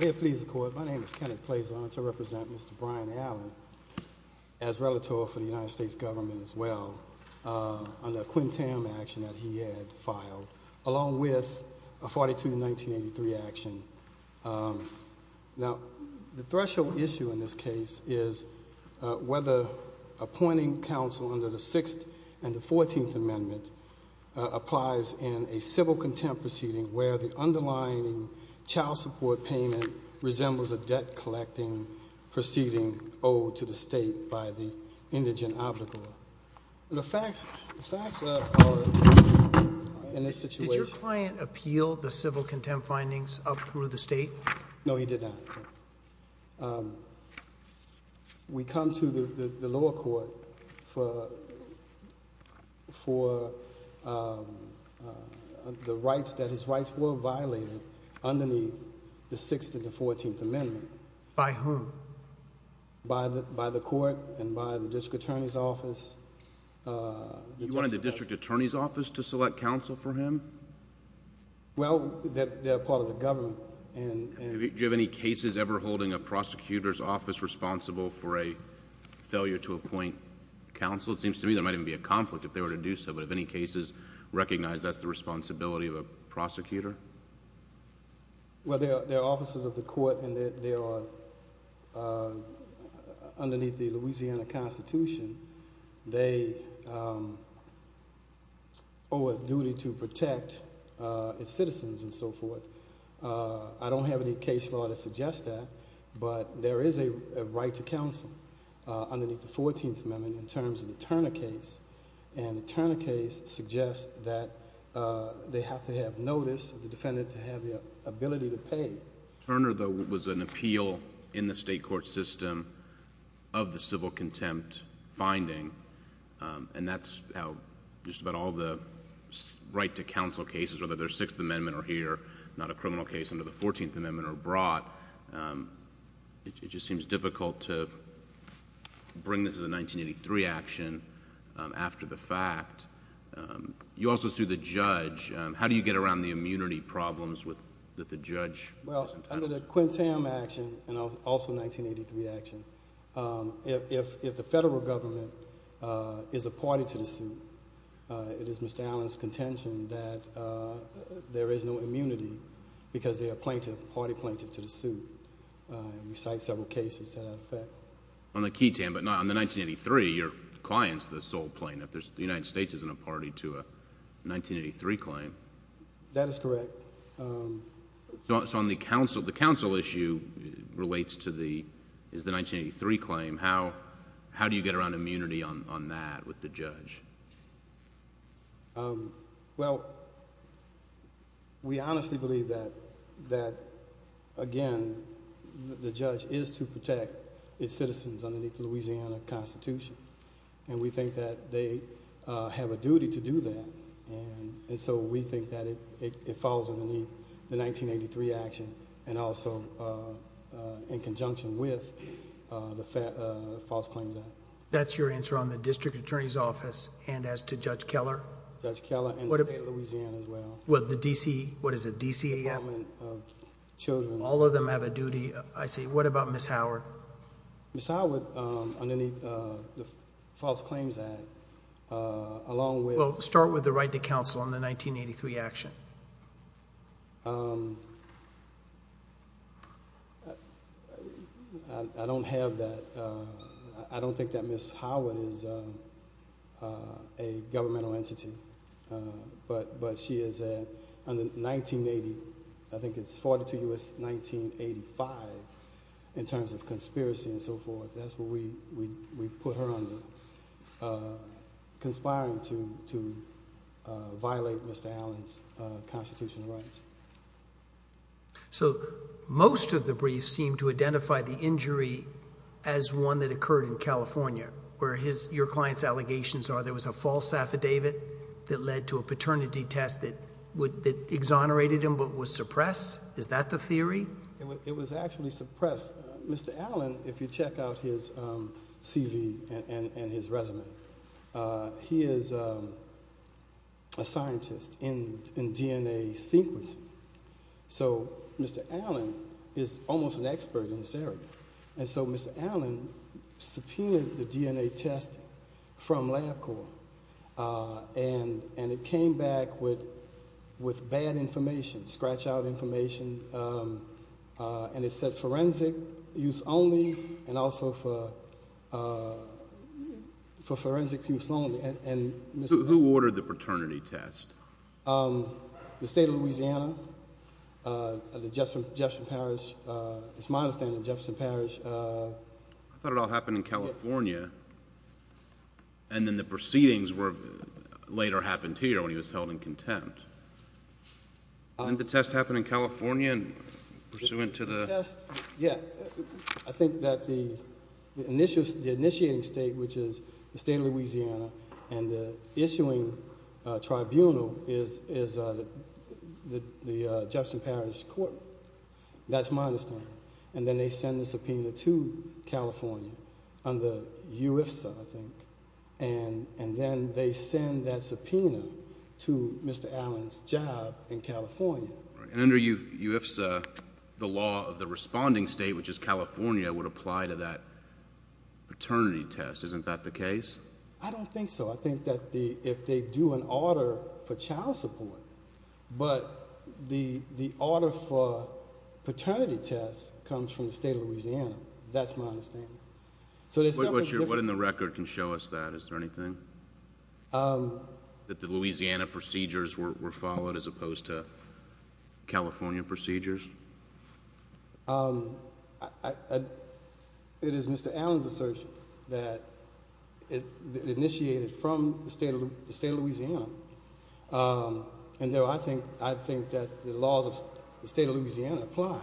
May it please the court, my name is Kenneth Plazon and I represent Mr. Brian Allen as relator for the United States government as well under a Quintam action that he had filed along with a 42-1983 action. Now the threshold issue in this case is whether appointing counsel under the 6th and the 14th amendment applies in a civil contempt proceeding where the underlying child support payment resembles a debt-collecting proceeding owed to the state by the indigent obligor. The facts are in this situation. Did your client appeal the civil contempt findings up through the state? No he did not. We come to the lower court for the rights that his rights were violated underneath the 6th and the 14th amendment. By whom? By the court and by the district attorney's office. You wanted the district attorney's office to select counsel for him? Well they're part of the government. Do you have any cases ever holding a prosecutor's office responsible for a failure to appoint counsel? It seems to me there might even be a conflict if they were to do so, but have any cases recognized that's the responsibility of a prosecutor? Well there are offices of the court and they are underneath the Louisiana constitution. They owe a duty to protect its citizens and so forth. I don't have any case law to suggest that, but there is a right to counsel underneath the 14th amendment in terms of the Turner case. The Turner case suggests that they have to have notice of the defendant to have the ability to pay. Well, Turner though was an appeal in the state court system of the civil contempt finding, and that's how just about all the right to counsel cases, whether they're 6th amendment or here, not a criminal case under the 14th amendment or abroad. It just seems difficult to bring this to the 1983 action after the fact. You also sued the judge. How do you get around the immunity problems that the judge... Well, under the Quintam action and also 1983 action, if the federal government is a party to the suit, it is Mr. Allen's contention that there is no immunity because they are plaintiff, party plaintiff to the suit. We cite several cases to that effect. On the Quintam, but not on the 1983, your client's the sole plaintiff. The United States isn't a party to a 1983 claim. That is correct. The counsel issue relates to the... is the 1983 claim. How do you get around immunity on that with the judge? We honestly believe that, again, the judge is to protect its citizens underneath the Louisiana Constitution, and we think that they have a duty to do that. We think that it falls underneath the 1983 action and also in conjunction with the false claims act. That's your answer on the district attorney's office and as to Judge Keller? Judge Keller and the state of Louisiana as well. What is it, DCAF? Department of Children's. All of them have a duty, I see. What about Ms. Howard? We'll start with the right to counsel on the 1983 action. I don't have that. I don't think that Ms. Howard is a governmental entity, but she is a... in the 1980, I think it's 42 U.S., 1985, in terms of conspiracy and so forth, that's what we put her under, conspiring to violate Mr. Allen's constitutional rights. Most of the briefs seem to identify the injury as one that occurred in California, where your client's allegations are there was a false affidavit that led to a paternity test that exonerated him but was suppressed? Is that the theory? It was actually suppressed. Mr. Allen, if you check out his CV and his resume, he is a scientist in DNA sequencing, so Mr. Allen is almost an expert in this area. Mr. Allen subpoenaed the DNA test from LabCorp, and it came back with bad information, scratch that. Forensic use only, and also for forensic use only, and... Who ordered the paternity test? The state of Louisiana, Jefferson Parish, it's my understanding, Jefferson Parish... I thought it all happened in California, and then the proceedings were... later happened here when he was held in contempt. I think that the initiating state, which is the state of Louisiana, and the issuing tribunal is the Jefferson Parish court, that's my understanding, and then they send the subpoena to California under UIFSA, I think, and then they send that subpoena to Mr. Allen's job in California. And under UIFSA, the law of the responding state, which is California, would apply to that paternity test. Isn't that the case? I don't think so. I think that if they do an order for child support, but the order for paternity test comes from the state of Louisiana, that's my understanding. What in the record can show us that? Is there anything? That the Louisiana procedures were followed as opposed to California procedures? It is Mr. Allen's assertion that it initiated from the state of Louisiana, and so I think that the laws of the state of Louisiana apply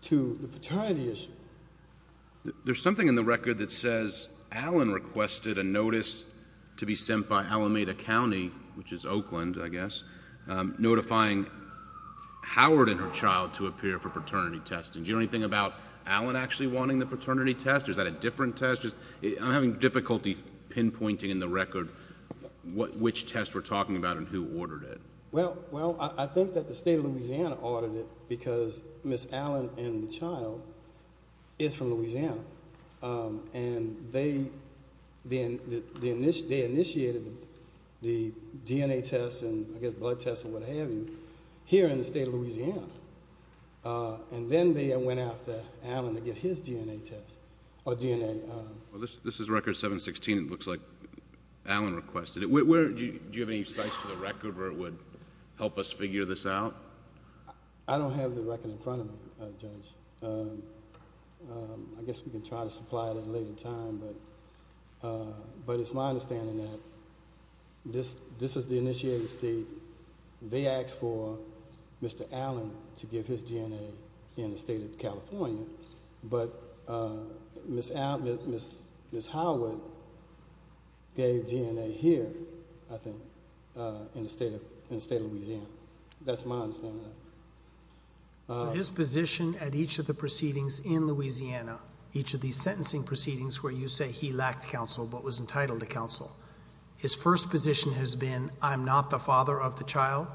to the paternity issue. There's something in the record that says Allen requested a notice to be sent by Alameda County, which is Oakland, I guess, notifying Howard and her child to appear for paternity testing. Do you know anything about Allen actually wanting the paternity test? Is that a different test? I'm having difficulty pinpointing in the record which test we're talking about and who ordered it. Well, I think that the state of Louisiana ordered it because Ms. Allen and the child is from Louisiana, and they initiated the DNA test and, I guess, blood test and what have you here in the state of Louisiana, and then they went after Allen to get his DNA test or DNA. This is record 716. It looks like Allen requested it. Do you have any sites to the record where it would help us figure this out? I don't have the record in front of me, Judge. I guess we can try to supply it at a later time, but it's my understanding that this is the initiated state. They asked for Mr. Allen to give his DNA in the state of California, but Ms. Howard gave his DNA here, I think, in the state of Louisiana. That's my understanding of it. His position at each of the proceedings in Louisiana, each of these sentencing proceedings where you say he lacked counsel but was entitled to counsel, his first position has been, I'm not the father of the child?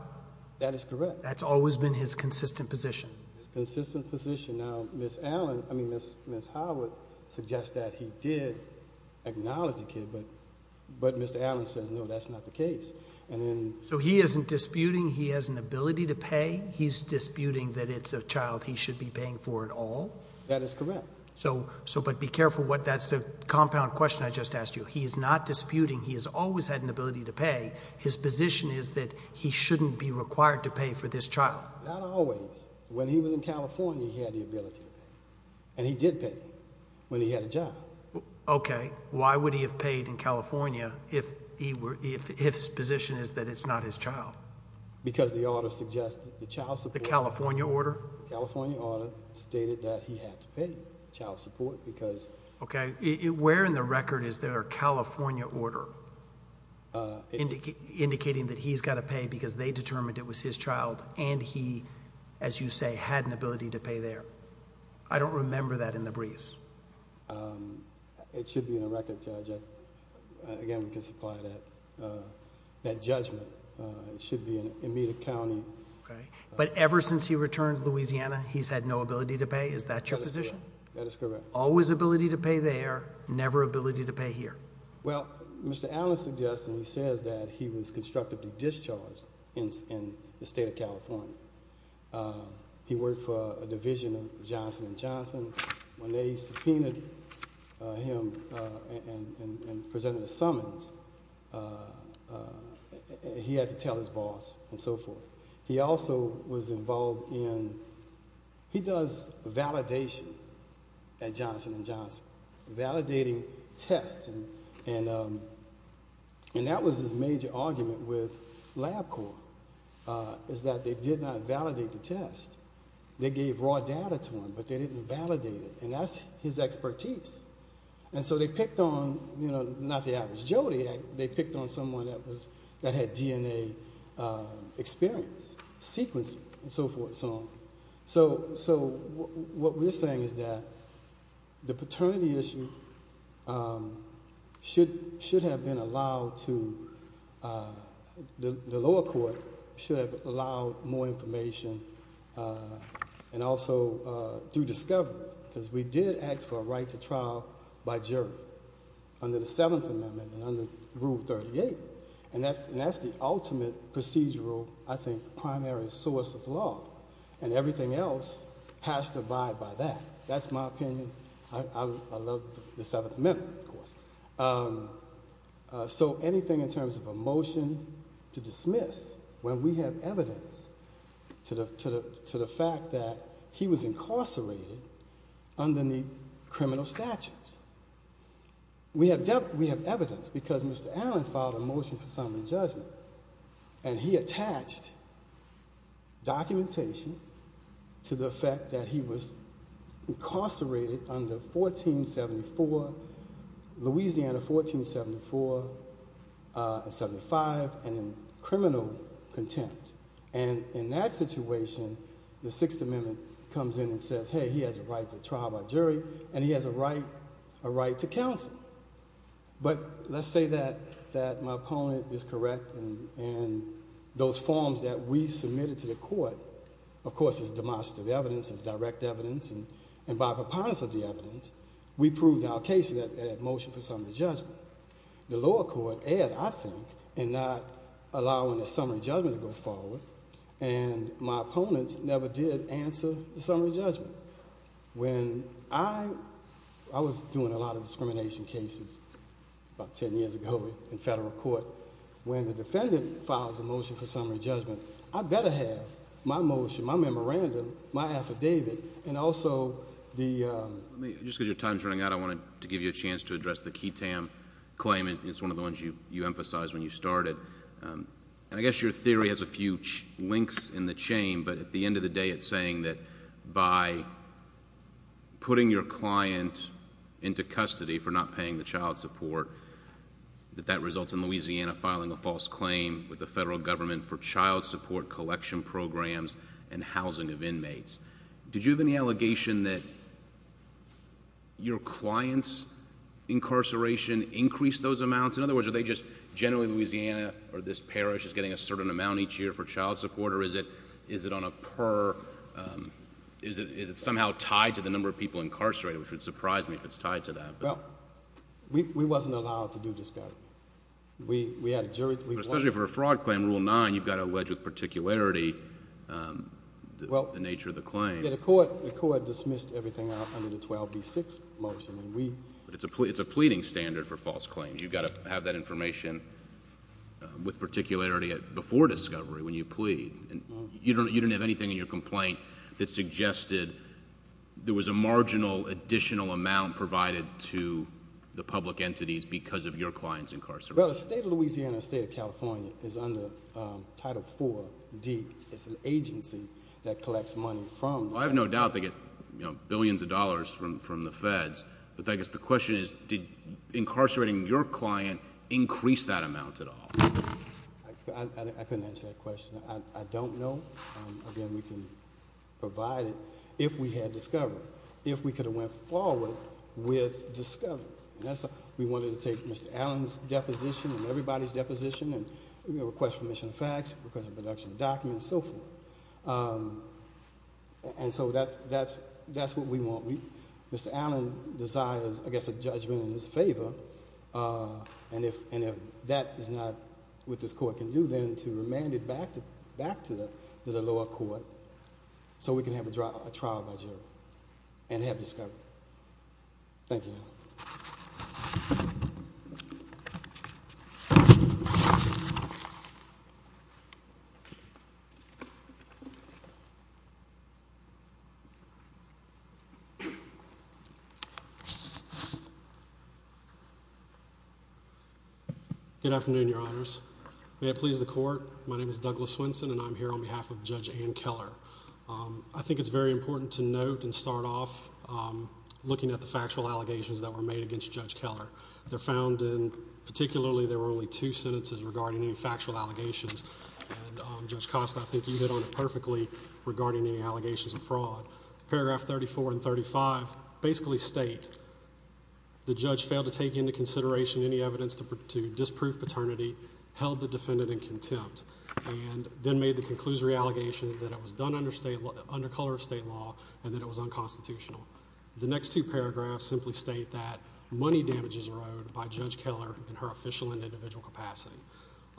That is correct. That's always been his consistent position? Consistent position. Now, Ms. Howard suggests that he did acknowledge the kid, but Mr. Allen says, no, that's not the case. He isn't disputing he has an ability to pay? He's disputing that it's a child he should be paying for it all? That is correct. Be careful. That's a compound question I just asked you. He is not disputing he has always had an ability to pay. His position is that he shouldn't be required to pay for this child? Not always. When he was in California, he had the ability to pay, and he did pay when he had a job. Okay. Why would he have paid in California if his position is that it's not his child? Because the order suggested the child support... The California order? The California order stated that he had to pay child support because... Okay. Where in the record is there a California order indicating that he's got to pay because they determined it was his child, and he, as you say, had an ability to pay there? I don't remember that in the briefs. It should be in the record, Judge. Again, we can supply that judgment. It should be in immediate accounting. Okay. But ever since he returned to Louisiana, he's had no ability to pay? Is that your position? That is correct. That is correct. Always ability to pay there, never ability to pay here? Well, Mr. Allen suggests and he says that he was constructively discharged in the state of California. He worked for a division of Johnson & Johnson. When they subpoenaed him and presented a summons, he had to tell his boss and so forth. He also was involved in... He does validation at Johnson & Johnson, validating tests. That was his major argument with LabCorp, is that they did not validate the test. They gave raw data to him, but they didn't validate it, and that's his expertise. They picked on... Not the average Joe, they picked on someone that had DNA experience, sequencing and so forth and so on. What we're saying is that the paternity issue should have been allowed to... The lower court should have allowed more information and also to discover, because we did ask for a right to trial by jury under the Seventh Amendment and under Rule 38, and that's the ultimate procedural, I think, primary source of law, and everything else has to abide by that. That's my opinion. I love the Seventh Amendment, of course. Anything in terms of a motion to dismiss when we have evidence to the fact that he was incarcerated underneath criminal statutes. We have evidence, because Mr. Allen filed a motion for summary judgment, and he attached documentation to the fact that he was incarcerated under Louisiana 1474 and 75 and in criminal contempt. In that situation, the Sixth Amendment comes in and says, hey, he has a right to trial by jury, and he has a right to counsel, but let's say that my opponent is correct, and those forms that we submitted to the court, of course, is demonstrative evidence, is direct evidence, and by preponderance of the evidence, we proved our case in that motion for summary judgment. The lower court erred, I think, in not allowing a summary judgment to go forward, and my opponents never did answer the summary judgment. I was doing a lot of discrimination cases about ten years ago in federal court. When the defendant files a motion for summary judgment, I better have my motion, my memorandum, my affidavit, and also... Just because your time is running out, I wanted to give you a chance to address the Ketam claim. It's one of the ones you emphasized when you started, and I guess your theory has a few links in the chain, but at the end of the day, it's saying that by putting your client into custody for not paying the child support, that that results in Louisiana filing a false claim with the federal government for child support collection programs and housing of inmates. Did you have any allegation that your client's incarceration increased those amounts? In other words, are they just generally Louisiana or this parish is getting a certain amount each year for child support, or is it somehow tied to the number of people incarcerated, which would surprise me if it's tied to that? We wasn't allowed to do discredit. We had a jury... Especially for a fraud claim, Rule 9, you've got to allege with particularity the nature of the claim. The court dismissed everything under the 12B6 motion, and we... It's a pleading standard for false claims. You've got to have that information with particularity before discovery when you plead. You didn't have anything in your complaint that suggested there was a marginal additional amount provided to the public entities because of your client's incarceration. Well, the state of Louisiana and the state of California is under Title 4D. It's an agency that collects money from... I have no doubt they get billions of dollars from the feds, but I guess the question is, did incarcerating your client increase that amount at all? I couldn't answer that question. I don't know. Again, we can provide it if we had discovery, if we could have went forward with discovery. We wanted to take Mr. Allen's deposition and everybody's deposition and request permission of facts, request of production of documents, and so forth. That's what we want. Mr. Allen desires, I guess, a judgment in his favor, and if that is not what this court can do, then to remand it back to the lower court so we can have a trial by jury and have discovery. Thank you. Good afternoon, Your Honors. May it please the Court, my name is Douglas Swenson, and I'm here on behalf of Judge Ann Keller. I think it's very important to note and start off looking at the factual allegations that were made against Judge Keller. They're found in... particularly, there were only two sentences regarding any factual allegations, and Judge Costa, I think you hit on it perfectly regarding any allegations of fraud. Paragraph 34 and 35 basically state, the judge failed to take into consideration any evidence to disprove paternity, held the defendant in contempt, and then made the conclusory allegations that it was done under color of state law and that it was unconstitutional. The next two paragraphs simply state that money damages were owed by Judge Keller in her official and individual capacity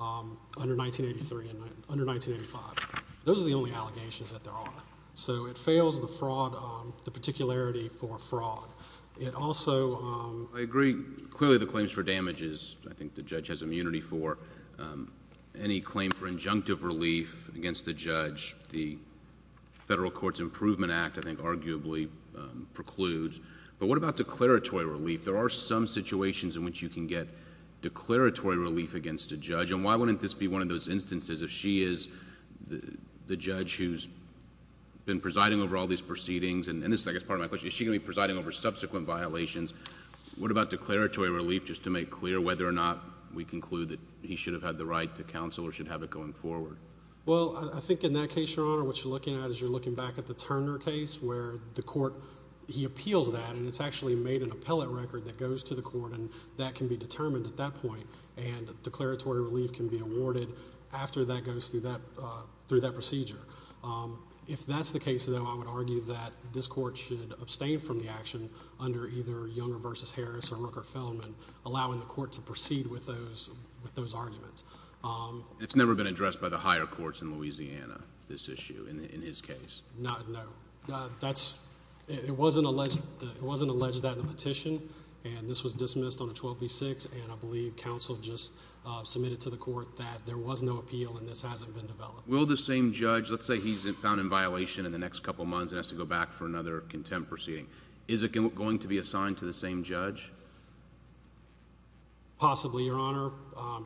under 1983 and under 1985. Those are the only allegations that there are. So it fails the fraud... the particularity for fraud. It also... I agree. Clearly, the claims for damages, I think the judge has immunity for. Any claim for injunctive relief against the judge, the Federal Courts Improvement Act, I think, arguably precludes, but what about declaratory relief? There are some situations in which you can get declaratory relief against a judge, and why wouldn't this be one of those instances if she is the judge who's been presiding over all these proceedings? And this is, I guess, part of my question. Is she going to be presiding over subsequent violations? What about declaratory relief, just to make clear whether or not we conclude that he should have the right to counsel or should have it going forward? Well, I think in that case, Your Honor, what you're looking at is you're looking back at the Turner case, where the court... he appeals that, and it's actually made an appellate record that goes to the court, and that can be determined at that point, and declaratory relief can be awarded after that goes through that procedure. If that's the case, though, I would argue that this court should abstain from the action under either Younger v. Harris or Rooker-Feldman, allowing the court to proceed with those arguments. And it's never been addressed by the higher courts in Louisiana, this issue, in his case? No. That's... it wasn't alleged that in the petition, and this was dismissed on a 12-v-6, and I believe counsel just submitted to the court that there was no appeal and this hasn't been developed. Will the same judge... let's say he's found in violation in the next couple of months and has to go back for another contempt proceeding. Is it going to be assigned to the same judge? Possibly, Your Honor.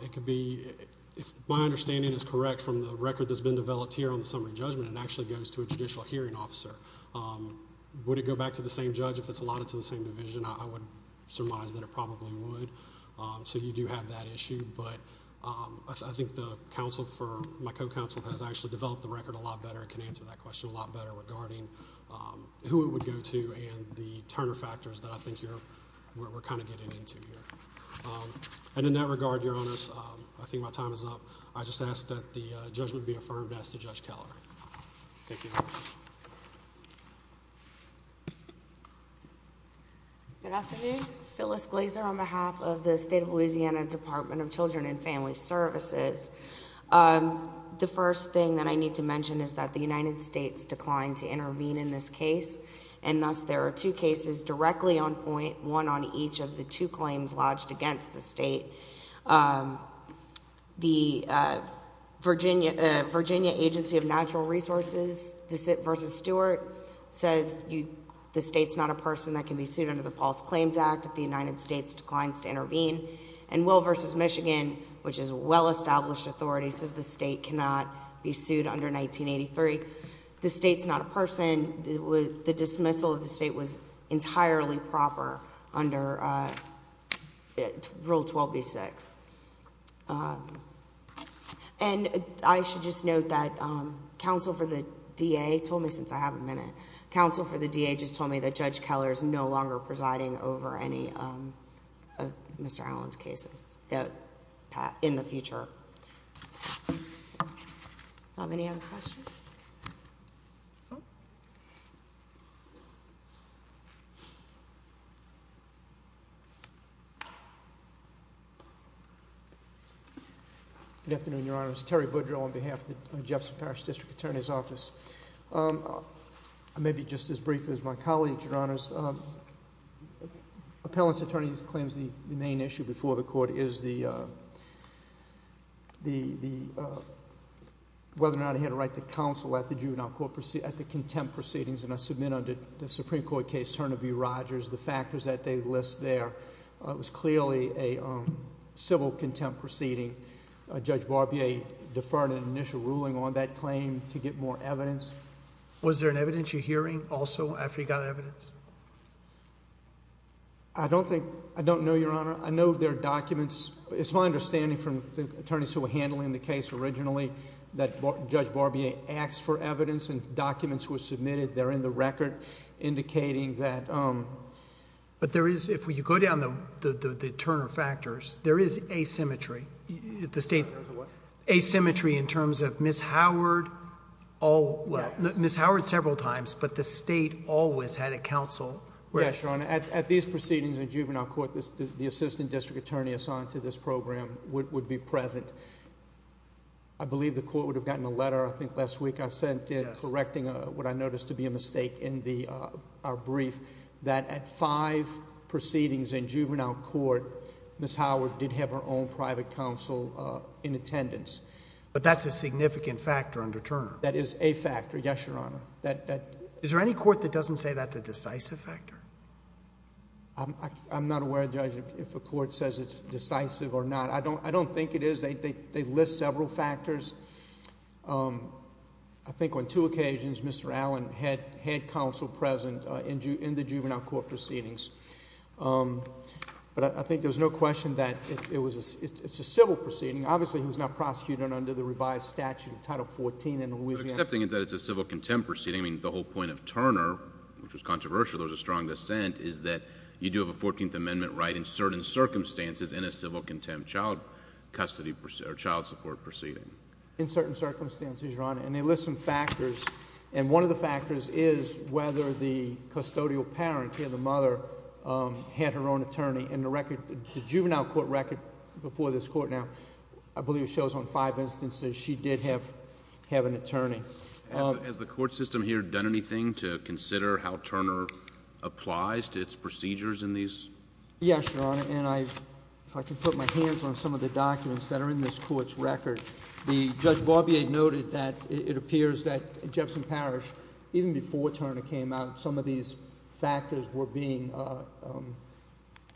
It could be... if my understanding is correct from the record that's been developed here on the summary judgment, it actually goes to a judicial hearing officer. Would it go back to the same judge if it's allotted to the same division? I would surmise that it probably would, so you do have that issue, but I think the counsel for... my co-counsel has actually developed the record a lot better and can answer that question a lot better regarding who it would go to and the Turner factors that I think you're... we're kind of getting into here. And in that regard, Your Honors, I think my time is up. I just ask that the judgment be affirmed as to Judge Keller. Thank you. Good afternoon. Phyllis Glazer on behalf of the State of Louisiana Department of Children and Family Services. The first thing that I need to mention is that the United States declined to intervene in this case, and thus there are two cases directly on point one on each of the two claims lodged against the state. The Virginia Agency of Natural Resources v. Stewart says the state's not a person that can be sued under the False Claims Act if the United States declines to intervene. And Will v. Michigan, which is a well-established authority, says the state cannot be sued under 1983. The state's not a person. And the dismissal of the state was entirely proper under Rule 12b-6. And I should just note that counsel for the DA told me... since I have a minute... counsel for the DA just told me that Judge Keller is no longer presiding over any of Mr. Allen's cases in the future. Do I have any other questions? Good afternoon, Your Honors. Terry Boudreaux on behalf of the Jefferson Parish District Attorney's Office. Maybe just as briefly as my colleagues, Your Honors, appellant's attorney claims the main issue before the Court is the... whether or not he had a right to counsel at the contempt proceedings. And I submit under the Supreme Court case, Turner v. Rogers, the factors that they list there. It was clearly a civil contempt proceeding. Judge Barbier deferred an initial ruling on that claim to get more evidence. Was there an evidence you're hearing also after you got evidence? I don't think... I don't know, Your Honor. I know there are documents. It's my understanding from the attorneys who were handling the case originally that Judge Barbier asked for evidence and documents were submitted. They're in the record indicating that... But there is... if you go down the Turner factors, there is asymmetry. The state... Asymmetry in what? Asymmetry in terms of Ms. Howard all... well, Ms. Howard several times, but the state always had a counsel. Yes, Your Honor. At these proceedings in juvenile court, the assistant district attorney assigned to this program would be present. I believe the court would have gotten a letter I think last week I sent in correcting what I noticed to be a mistake in our brief that at five proceedings in juvenile court, Ms. Howard did have her own private counsel in attendance. But that's a significant factor under Turner. That is a factor, yes, Your Honor. Is there any court that doesn't say that's a decisive factor? I'm not aware, Judge, if a court says it's decisive or not. I don't think it is. They list several factors. I think on two occasions, Mr. Allen had counsel present in the juvenile court proceedings. But I think there's no question that it's a civil proceeding. Obviously, he was not prosecuted under the revised statute of Title 14 in Louisiana. I'm just accepting that it's a civil contempt proceeding. The whole point of Turner, which was controversial, there was a strong dissent, is that you do have a 14th Amendment right in certain circumstances in a civil contempt child support proceeding. In certain circumstances, Your Honor, and they list some factors. One of the factors is whether the custodial parent, the mother, had her own attorney. The juvenile court record before this court now, I believe it shows on five instances, she did have an attorney. Has the court system here done anything to consider how Turner applies to its procedures in these? Yes, Your Honor. And if I can put my hands on some of the documents that are in this court's record, Judge Barbier noted that it appears that in Jefferson Parish, even before Turner came out, some of these factors were being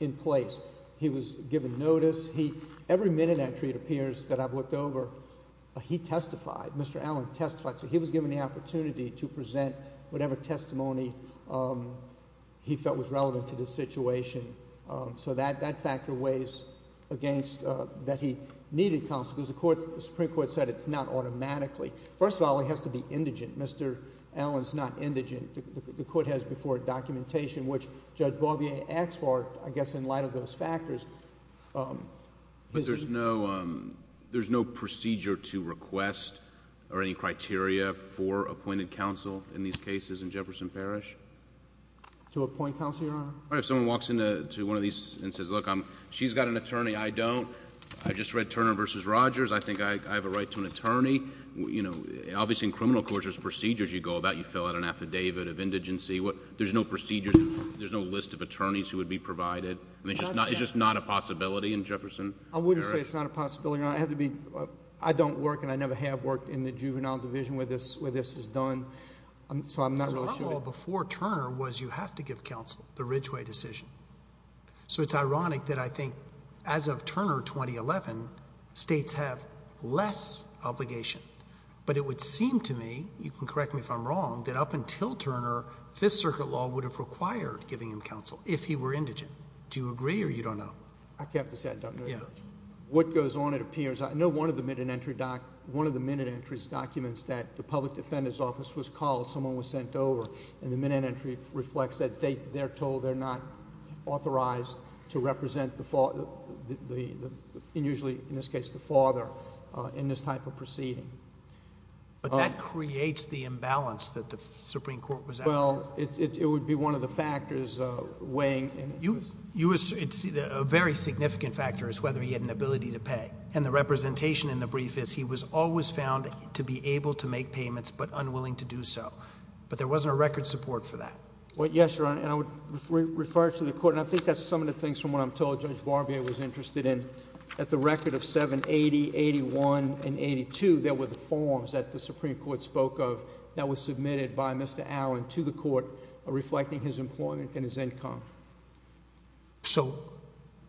in place. He was given notice. Every minute that treat appears that I've looked over, he testified. Mr. Allen testified, so he was given the opportunity to present whatever testimony he felt was relevant to the situation. So that factor weighs against that he needed counsel, because the Supreme Court said it's not automatically. First of all, he has to be indigent. Mr. Allen's not indigent. The court has before it documentation, which Judge Barbier asked for, I guess, in light of those factors. But there's no procedure to request or any criteria for appointed counsel in these cases in Jefferson Parish? To appoint counsel, Your Honor? All right. If someone walks into one of these and says, look, she's got an attorney, I don't, I just read Turner v. Rogers, I think I have a right to an attorney, you know, obviously in criminal courts, there's procedures you go about, you fill out an affidavit of indigency. There's no procedures, there's no list of attorneys who would be provided. I mean, it's just not a possibility in Jefferson Parish. I wouldn't say it's not a possibility, Your Honor. I don't work and I never have worked in the juvenile division where this is done, so I'm not really sure. Because my law before Turner was you have to give counsel, the Ridgway decision. So it's ironic that I think as of Turner 2011, states have less obligation. But it would seem to me, you can correct me if I'm wrong, that up until Turner, Fifth... Do you agree or you don't know? I have to say I don't know. What goes on it appears. I know one of the minute entries documents that the public defender's office was called, someone was sent over. And the minute entry reflects that they, they're told they're not authorized to represent the, usually in this case, the father in this type of proceeding. But that creates the imbalance that the Supreme Court was out for. Well, it would be one of the factors weighing. You, it's a very significant factor is whether he had an ability to pay. And the representation in the brief is he was always found to be able to make payments but unwilling to do so. But there wasn't a record support for that. Well, yes, Your Honor. And I would refer it to the court. And I think that's some of the things from what I'm told Judge Barbier was interested in. At the record of 780, 81, and 82, there were the forms that the Supreme Court spoke of that was submitted by Mr. Allen to the court reflecting his employment and his income. So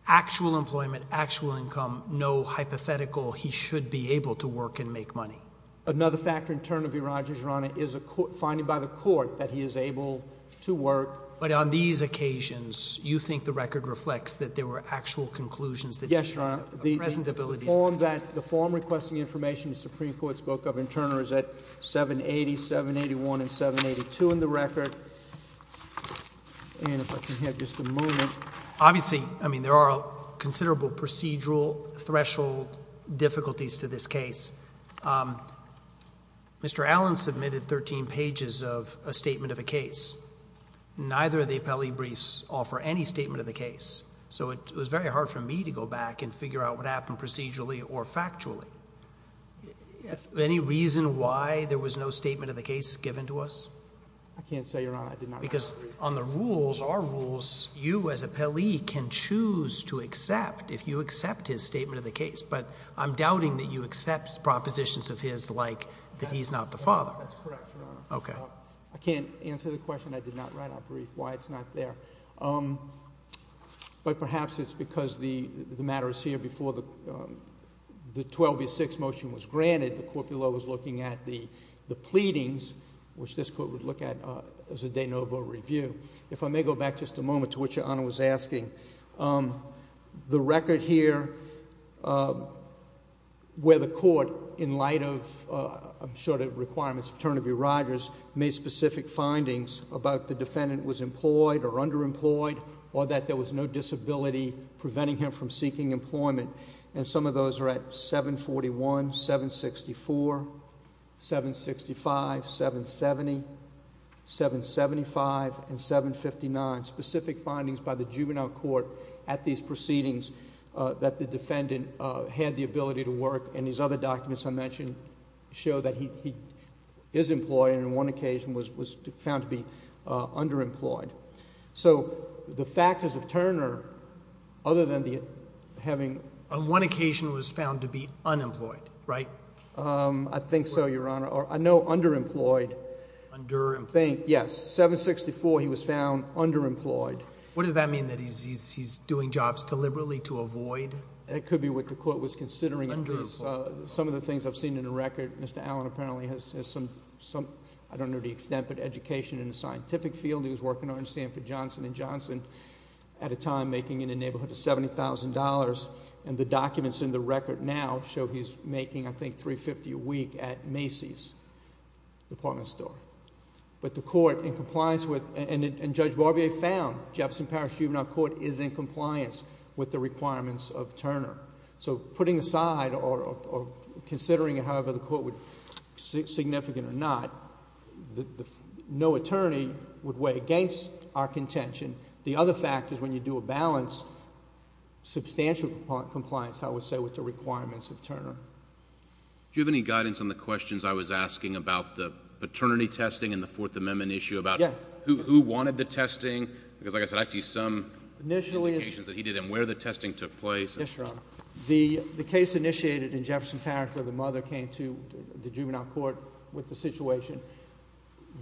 actual employment, actual income, no hypothetical he should be able to work and make money. Another factor in turn of your Rogers, Your Honor, is a court, finding by the court that he is able to work. But on these occasions, you think the record reflects that there were actual conclusions Yes, Your Honor. And on that, the form requesting information the Supreme Court spoke of in Turner is at 780, 781, and 782 in the record. And if I can have just a moment. Obviously, I mean, there are considerable procedural threshold difficulties to this case. Mr. Allen submitted 13 pages of a statement of a case. Neither of the appellee briefs offer any statement of the case. So it was very hard for me to go back and figure out what happened procedurally or factually. Any reason why there was no statement of the case given to us? I can't say, Your Honor, I did not write a brief. Because on the rules, our rules, you as appellee can choose to accept if you accept his statement of the case. But I'm doubting that you accept propositions of his like that he's not the father. That's correct, Your Honor. Okay. I can't answer the question. I did not write a brief. Why it's not there. But perhaps it's because the matter is here before the 12B6 motion was granted, the court below was looking at the pleadings, which this court would look at as a de novo review. If I may go back just a moment to what Your Honor was asking. The record here, where the court, in light of, I'm sure, the requirements of Turnaby Riders, made specific findings about the defendant was employed or underemployed or that there was no disability preventing him from seeking employment. And some of those are at 741, 764, 765, 770, 775, and 759. Specific findings by the juvenile court at these proceedings that the defendant had the ability to work. And his other documents I mentioned show that he is employed and on one occasion was found to be underemployed. So the factors of Turner, other than the having... On one occasion was found to be unemployed, right? I think so, Your Honor. Or I know underemployed. Underemployed. I think, yes. 764, he was found underemployed. What does that mean? That he's doing jobs deliberately to avoid... It could be what the court was considering. Some of the things I've seen in the record, Mr. Allen apparently has some, I don't know the extent, but education in the scientific field he was working on in Stanford Johnson and Johnson at a time making in a neighborhood of $70,000. And the documents in the record now show he's making, I think, $350 a week at Macy's, the department store. But the court, in compliance with... And Judge Barbier found, Jefferson Parish Juvenile Court is in compliance with the requirements of Turner. So putting aside or considering it however the court would... significant or not, no attorney would weigh against our contention. The other factors when you do a balance, substantial compliance, I would say, with the requirements of Turner. Do you have any guidance on the questions I was asking about the paternity testing and the Fourth Amendment issue about who wanted the testing? Because like I said, I see some indications that he did and where the testing took place. Yes, Your Honor. The case initiated in Jefferson Parish where the mother came to the juvenile court with the situation,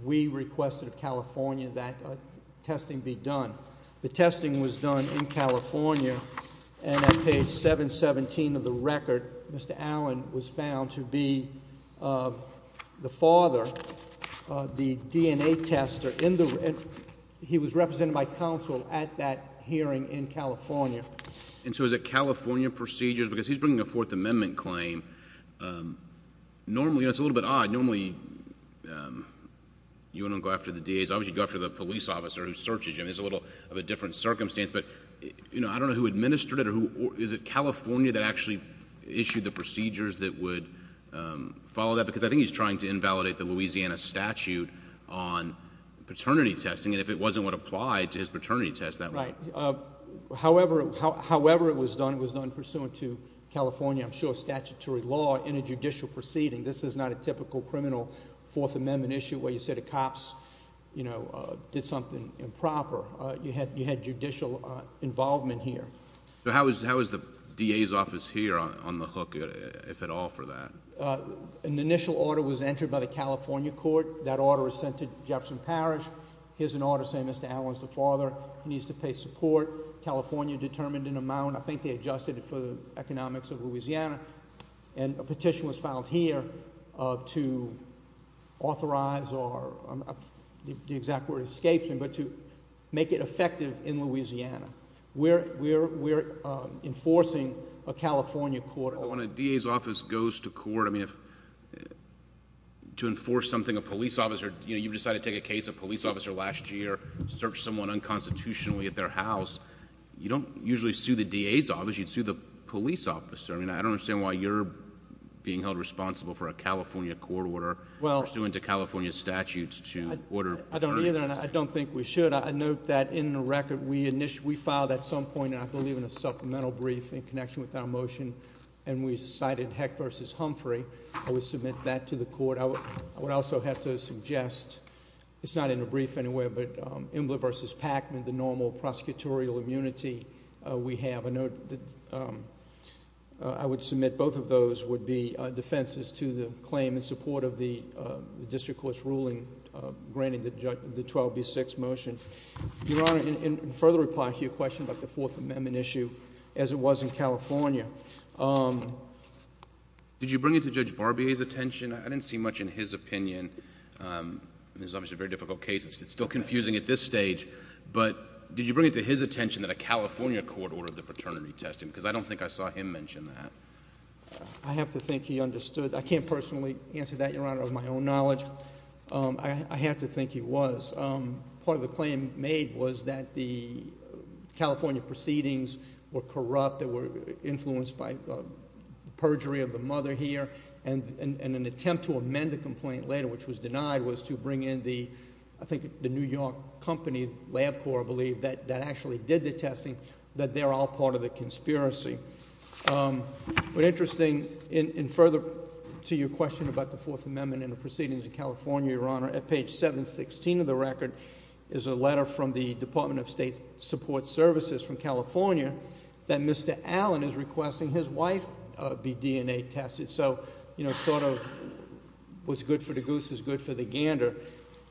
we requested of California that testing be done. The testing was done in California and on page 717 of the record, Mr. Allen was found to be the father of the DNA tester. He was represented by counsel at that hearing in California. And so is it California procedures? Because he's bringing a Fourth Amendment claim, normally, it's a little bit odd, normally you wouldn't go after the DAs. Obviously, you'd go after the police officer who searches you. I mean, it's a little of a different circumstance, but, you know, I don't know who administered it. So is it California that actually issued the procedures that would follow that? Because I think he's trying to invalidate the Louisiana statute on paternity testing and if it wasn't what applied to his paternity test, that would... Right. However, it was done, it was done pursuant to California, I'm sure, statutory law in a judicial proceeding. This is not a typical criminal Fourth Amendment issue where you say the cops, you know, did something improper. You had judicial involvement here. So how is the DA's office here on the hook, if at all, for that? An initial order was entered by the California court. That order was sent to Jefferson Parish. Here's an order saying Mr. Allen's the father, he needs to pay support. California determined an amount, I think they adjusted it for the economics of Louisiana, and a petition was filed here to authorize or, the exact word, escape him, but to make it effective in Louisiana. We're enforcing a California court order. When a DA's office goes to court, I mean, to enforce something, a police officer, you know, you've decided to take a case of a police officer last year, search someone unconstitutionally at their house, you don't usually sue the DA's office, you'd sue the police officer. I mean, I don't understand why you're being held responsible for a California court order pursuant to California statutes to order paternity testing. I don't either, and I don't think we should. But I note that in the record, we filed at some point, and I believe in a supplemental brief in connection with our motion, and we cited Heck v. Humphrey, I would submit that to the court. I would also have to suggest, it's not in the brief anywhere, but Embler v. Packman, the normal prosecutorial immunity we have, I would submit both of those would be defenses to the claim in support of the district court's ruling granting the 12B6 motion. Your Honor, in further reply to your question about the Fourth Amendment issue, as it was in California, did you bring it to Judge Barbier's attention? I didn't see much in his opinion, and this is obviously a very difficult case, it's still confusing at this stage, but did you bring it to his attention that a California court ordered the paternity testing? Because I don't think I saw him mention that. I have to think he understood. I can't personally answer that, your Honor, of my own knowledge. I have to think he was. Part of the claim made was that the California proceedings were corrupt, they were influenced by perjury of the mother here, and an attempt to amend the complaint later, which was denied, was to bring in the, I think the New York company, LabCorp, I believe, that actually did the testing, that they're all part of the conspiracy. But interesting, in further to your question about the Fourth Amendment and the proceedings in California, your Honor, at page 716 of the record is a letter from the Department of State Support Services from California that Mr. Allen is requesting his wife be DNA tested. So, you know, sort of what's good for the goose is good for the gander.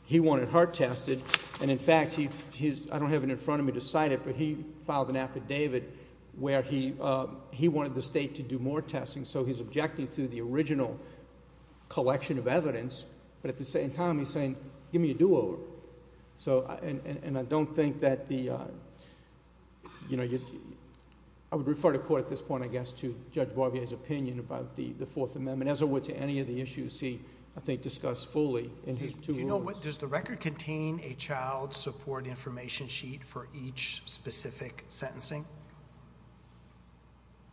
He wanted her tested, and in fact, I don't have it in front of me to cite it, but he filed an affidavit where he wanted the state to do more testing, so he's objecting to the original collection of evidence, but at the same time he's saying, give me a do-over. And I don't think that the, you know, I would refer to court at this point, I guess, to Judge Barbier's opinion about the Fourth Amendment, as I would to any of the issues he, I think, discussed fully in his two words. Do you know what, does the record contain a child support information sheet for each specific sentencing?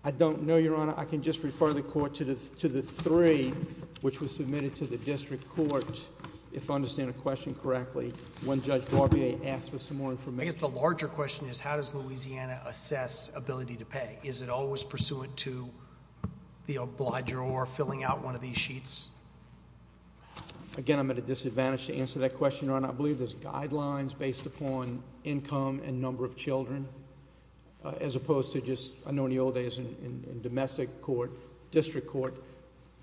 I don't know, Your Honor. I can just refer the court to the three which was submitted to the district court, if I understand the question correctly, when Judge Barbier asked for some more information. I guess the larger question is, how does Louisiana assess ability to pay? Is it always pursuant to the obliger or filling out one of these sheets? Again, I'm at a disadvantage to answer that question, Your Honor. I believe there's guidelines based upon income and number of children, as opposed to just, I know in the old days in domestic court, district court,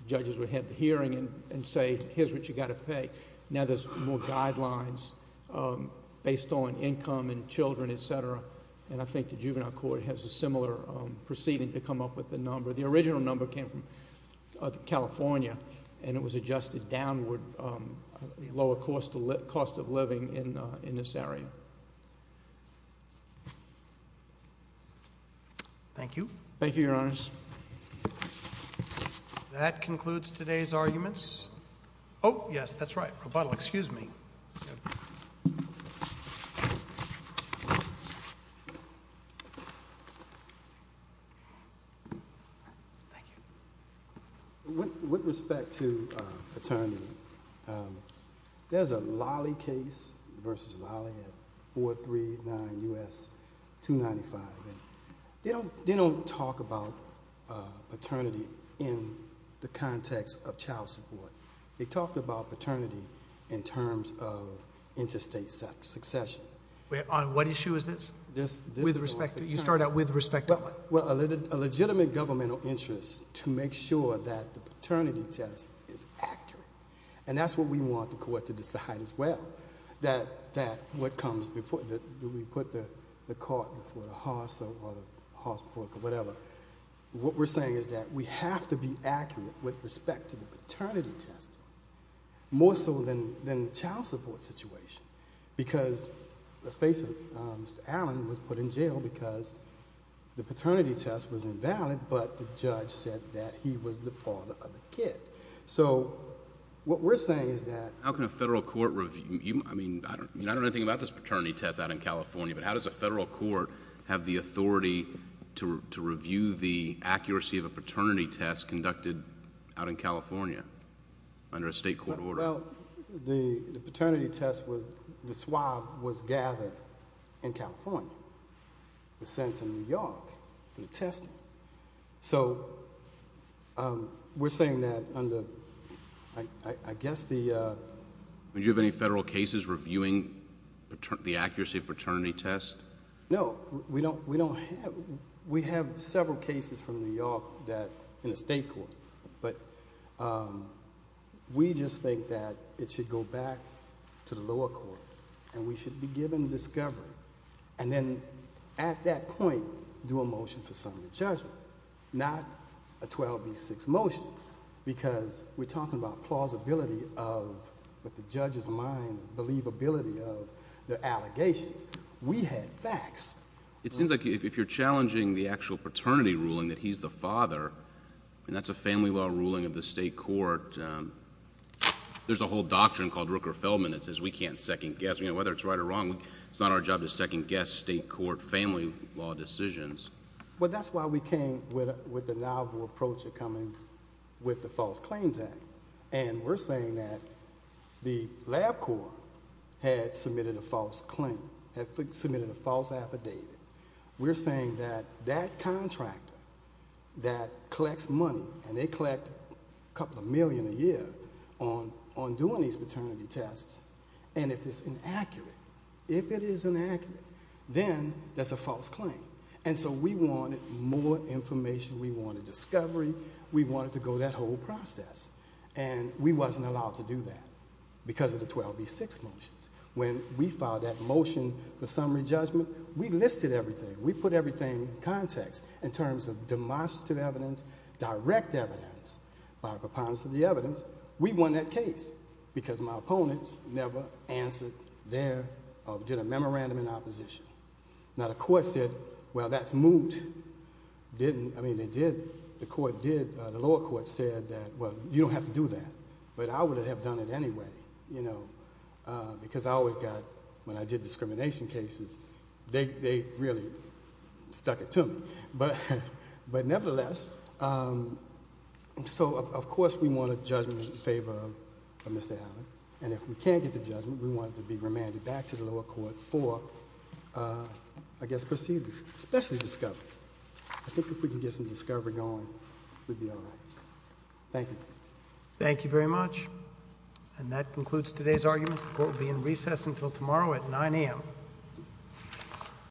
judges would have the hearing and say, here's what you got to pay. Now there's more guidelines based on income and children, et cetera, and I think the juvenile court has a similar proceeding to come up with the number. The original number came from California, and it was adjusted downward, the lower cost of living in this area. Thank you. Thank you, Your Honors. That concludes today's arguments. Oh, yes, that's right, Roboto, excuse me. Thank you. With respect to paternity, there's a Lolly case versus Lolly at 439 U.S. 295, and they don't talk about paternity in the context of child support. They talk about paternity in terms of interstate succession. What issue is this? This is on paternity. With respect to, you start out with respect to what? A legitimate governmental interest to make sure that the paternity test is accurate, and that's what we want the court to decide as well, that what comes before, do we put the court before the house or whatever. What we're saying is that we have to be accurate with respect to the paternity test, more so than the child support situation because, let's face it, Mr. Allen was put in jail because the paternity test was invalid, but the judge said that he was the father of the kid. What we're saying is that... How can a federal court review... I don't know anything about this paternity test out in California, but how does a federal court have the authority to review the accuracy of a paternity test conducted out in California under a state court order? The paternity test was... the swab was gathered in California, was sent to New York for the testing, so we're saying that under, I guess the... Do you have any federal cases reviewing the accuracy of paternity test? No. We don't have... We have several cases from New York that... in a state court, but we just think that it should go back to the lower court, and we should be given discovery, and then at that point, do a motion for summary judgment, not a 12B6 motion because we're the judge's mind believability of the allegations. We had facts. It seems like if you're challenging the actual paternity ruling that he's the father, and that's a family law ruling of the state court, there's a whole doctrine called Rooker-Feldman that says we can't second-guess. Whether it's right or wrong, it's not our job to second-guess state court family law decisions. Well, that's why we came with the novel approach of coming with the False Claims Act, and we're saying that if LabCorp had submitted a false claim, had submitted a false affidavit, we're saying that that contractor that collects money, and they collect a couple of million a year on doing these paternity tests, and if it's inaccurate, if it is inaccurate, then that's a false claim, and so we wanted more information. We wanted discovery. We wanted to go that whole process, and we wasn't allowed to do that because of the 12B6 motions. When we filed that motion for summary judgment, we listed everything. We put everything in context in terms of demonstrative evidence, direct evidence, by preponderance of the evidence. We won that case because my opponents never answered their or did a memorandum in opposition. Now, the court said, well, that's moot. The lower court said that, well, you don't have to do that, but I would have done it anyway because I always got, when I did discrimination cases, they really stuck it to me, but nevertheless, so of course we want a judgment in favor of Mr. Allen, and if we can't get the judgment, we want it to be remanded back to the lower court for, I guess, proceedings, especially discovery. I think if we can get some discovery going, we'd be all right. Thank you. Thank you very much, and that concludes today's arguments. The court will be in recess until tomorrow at 9 a.m.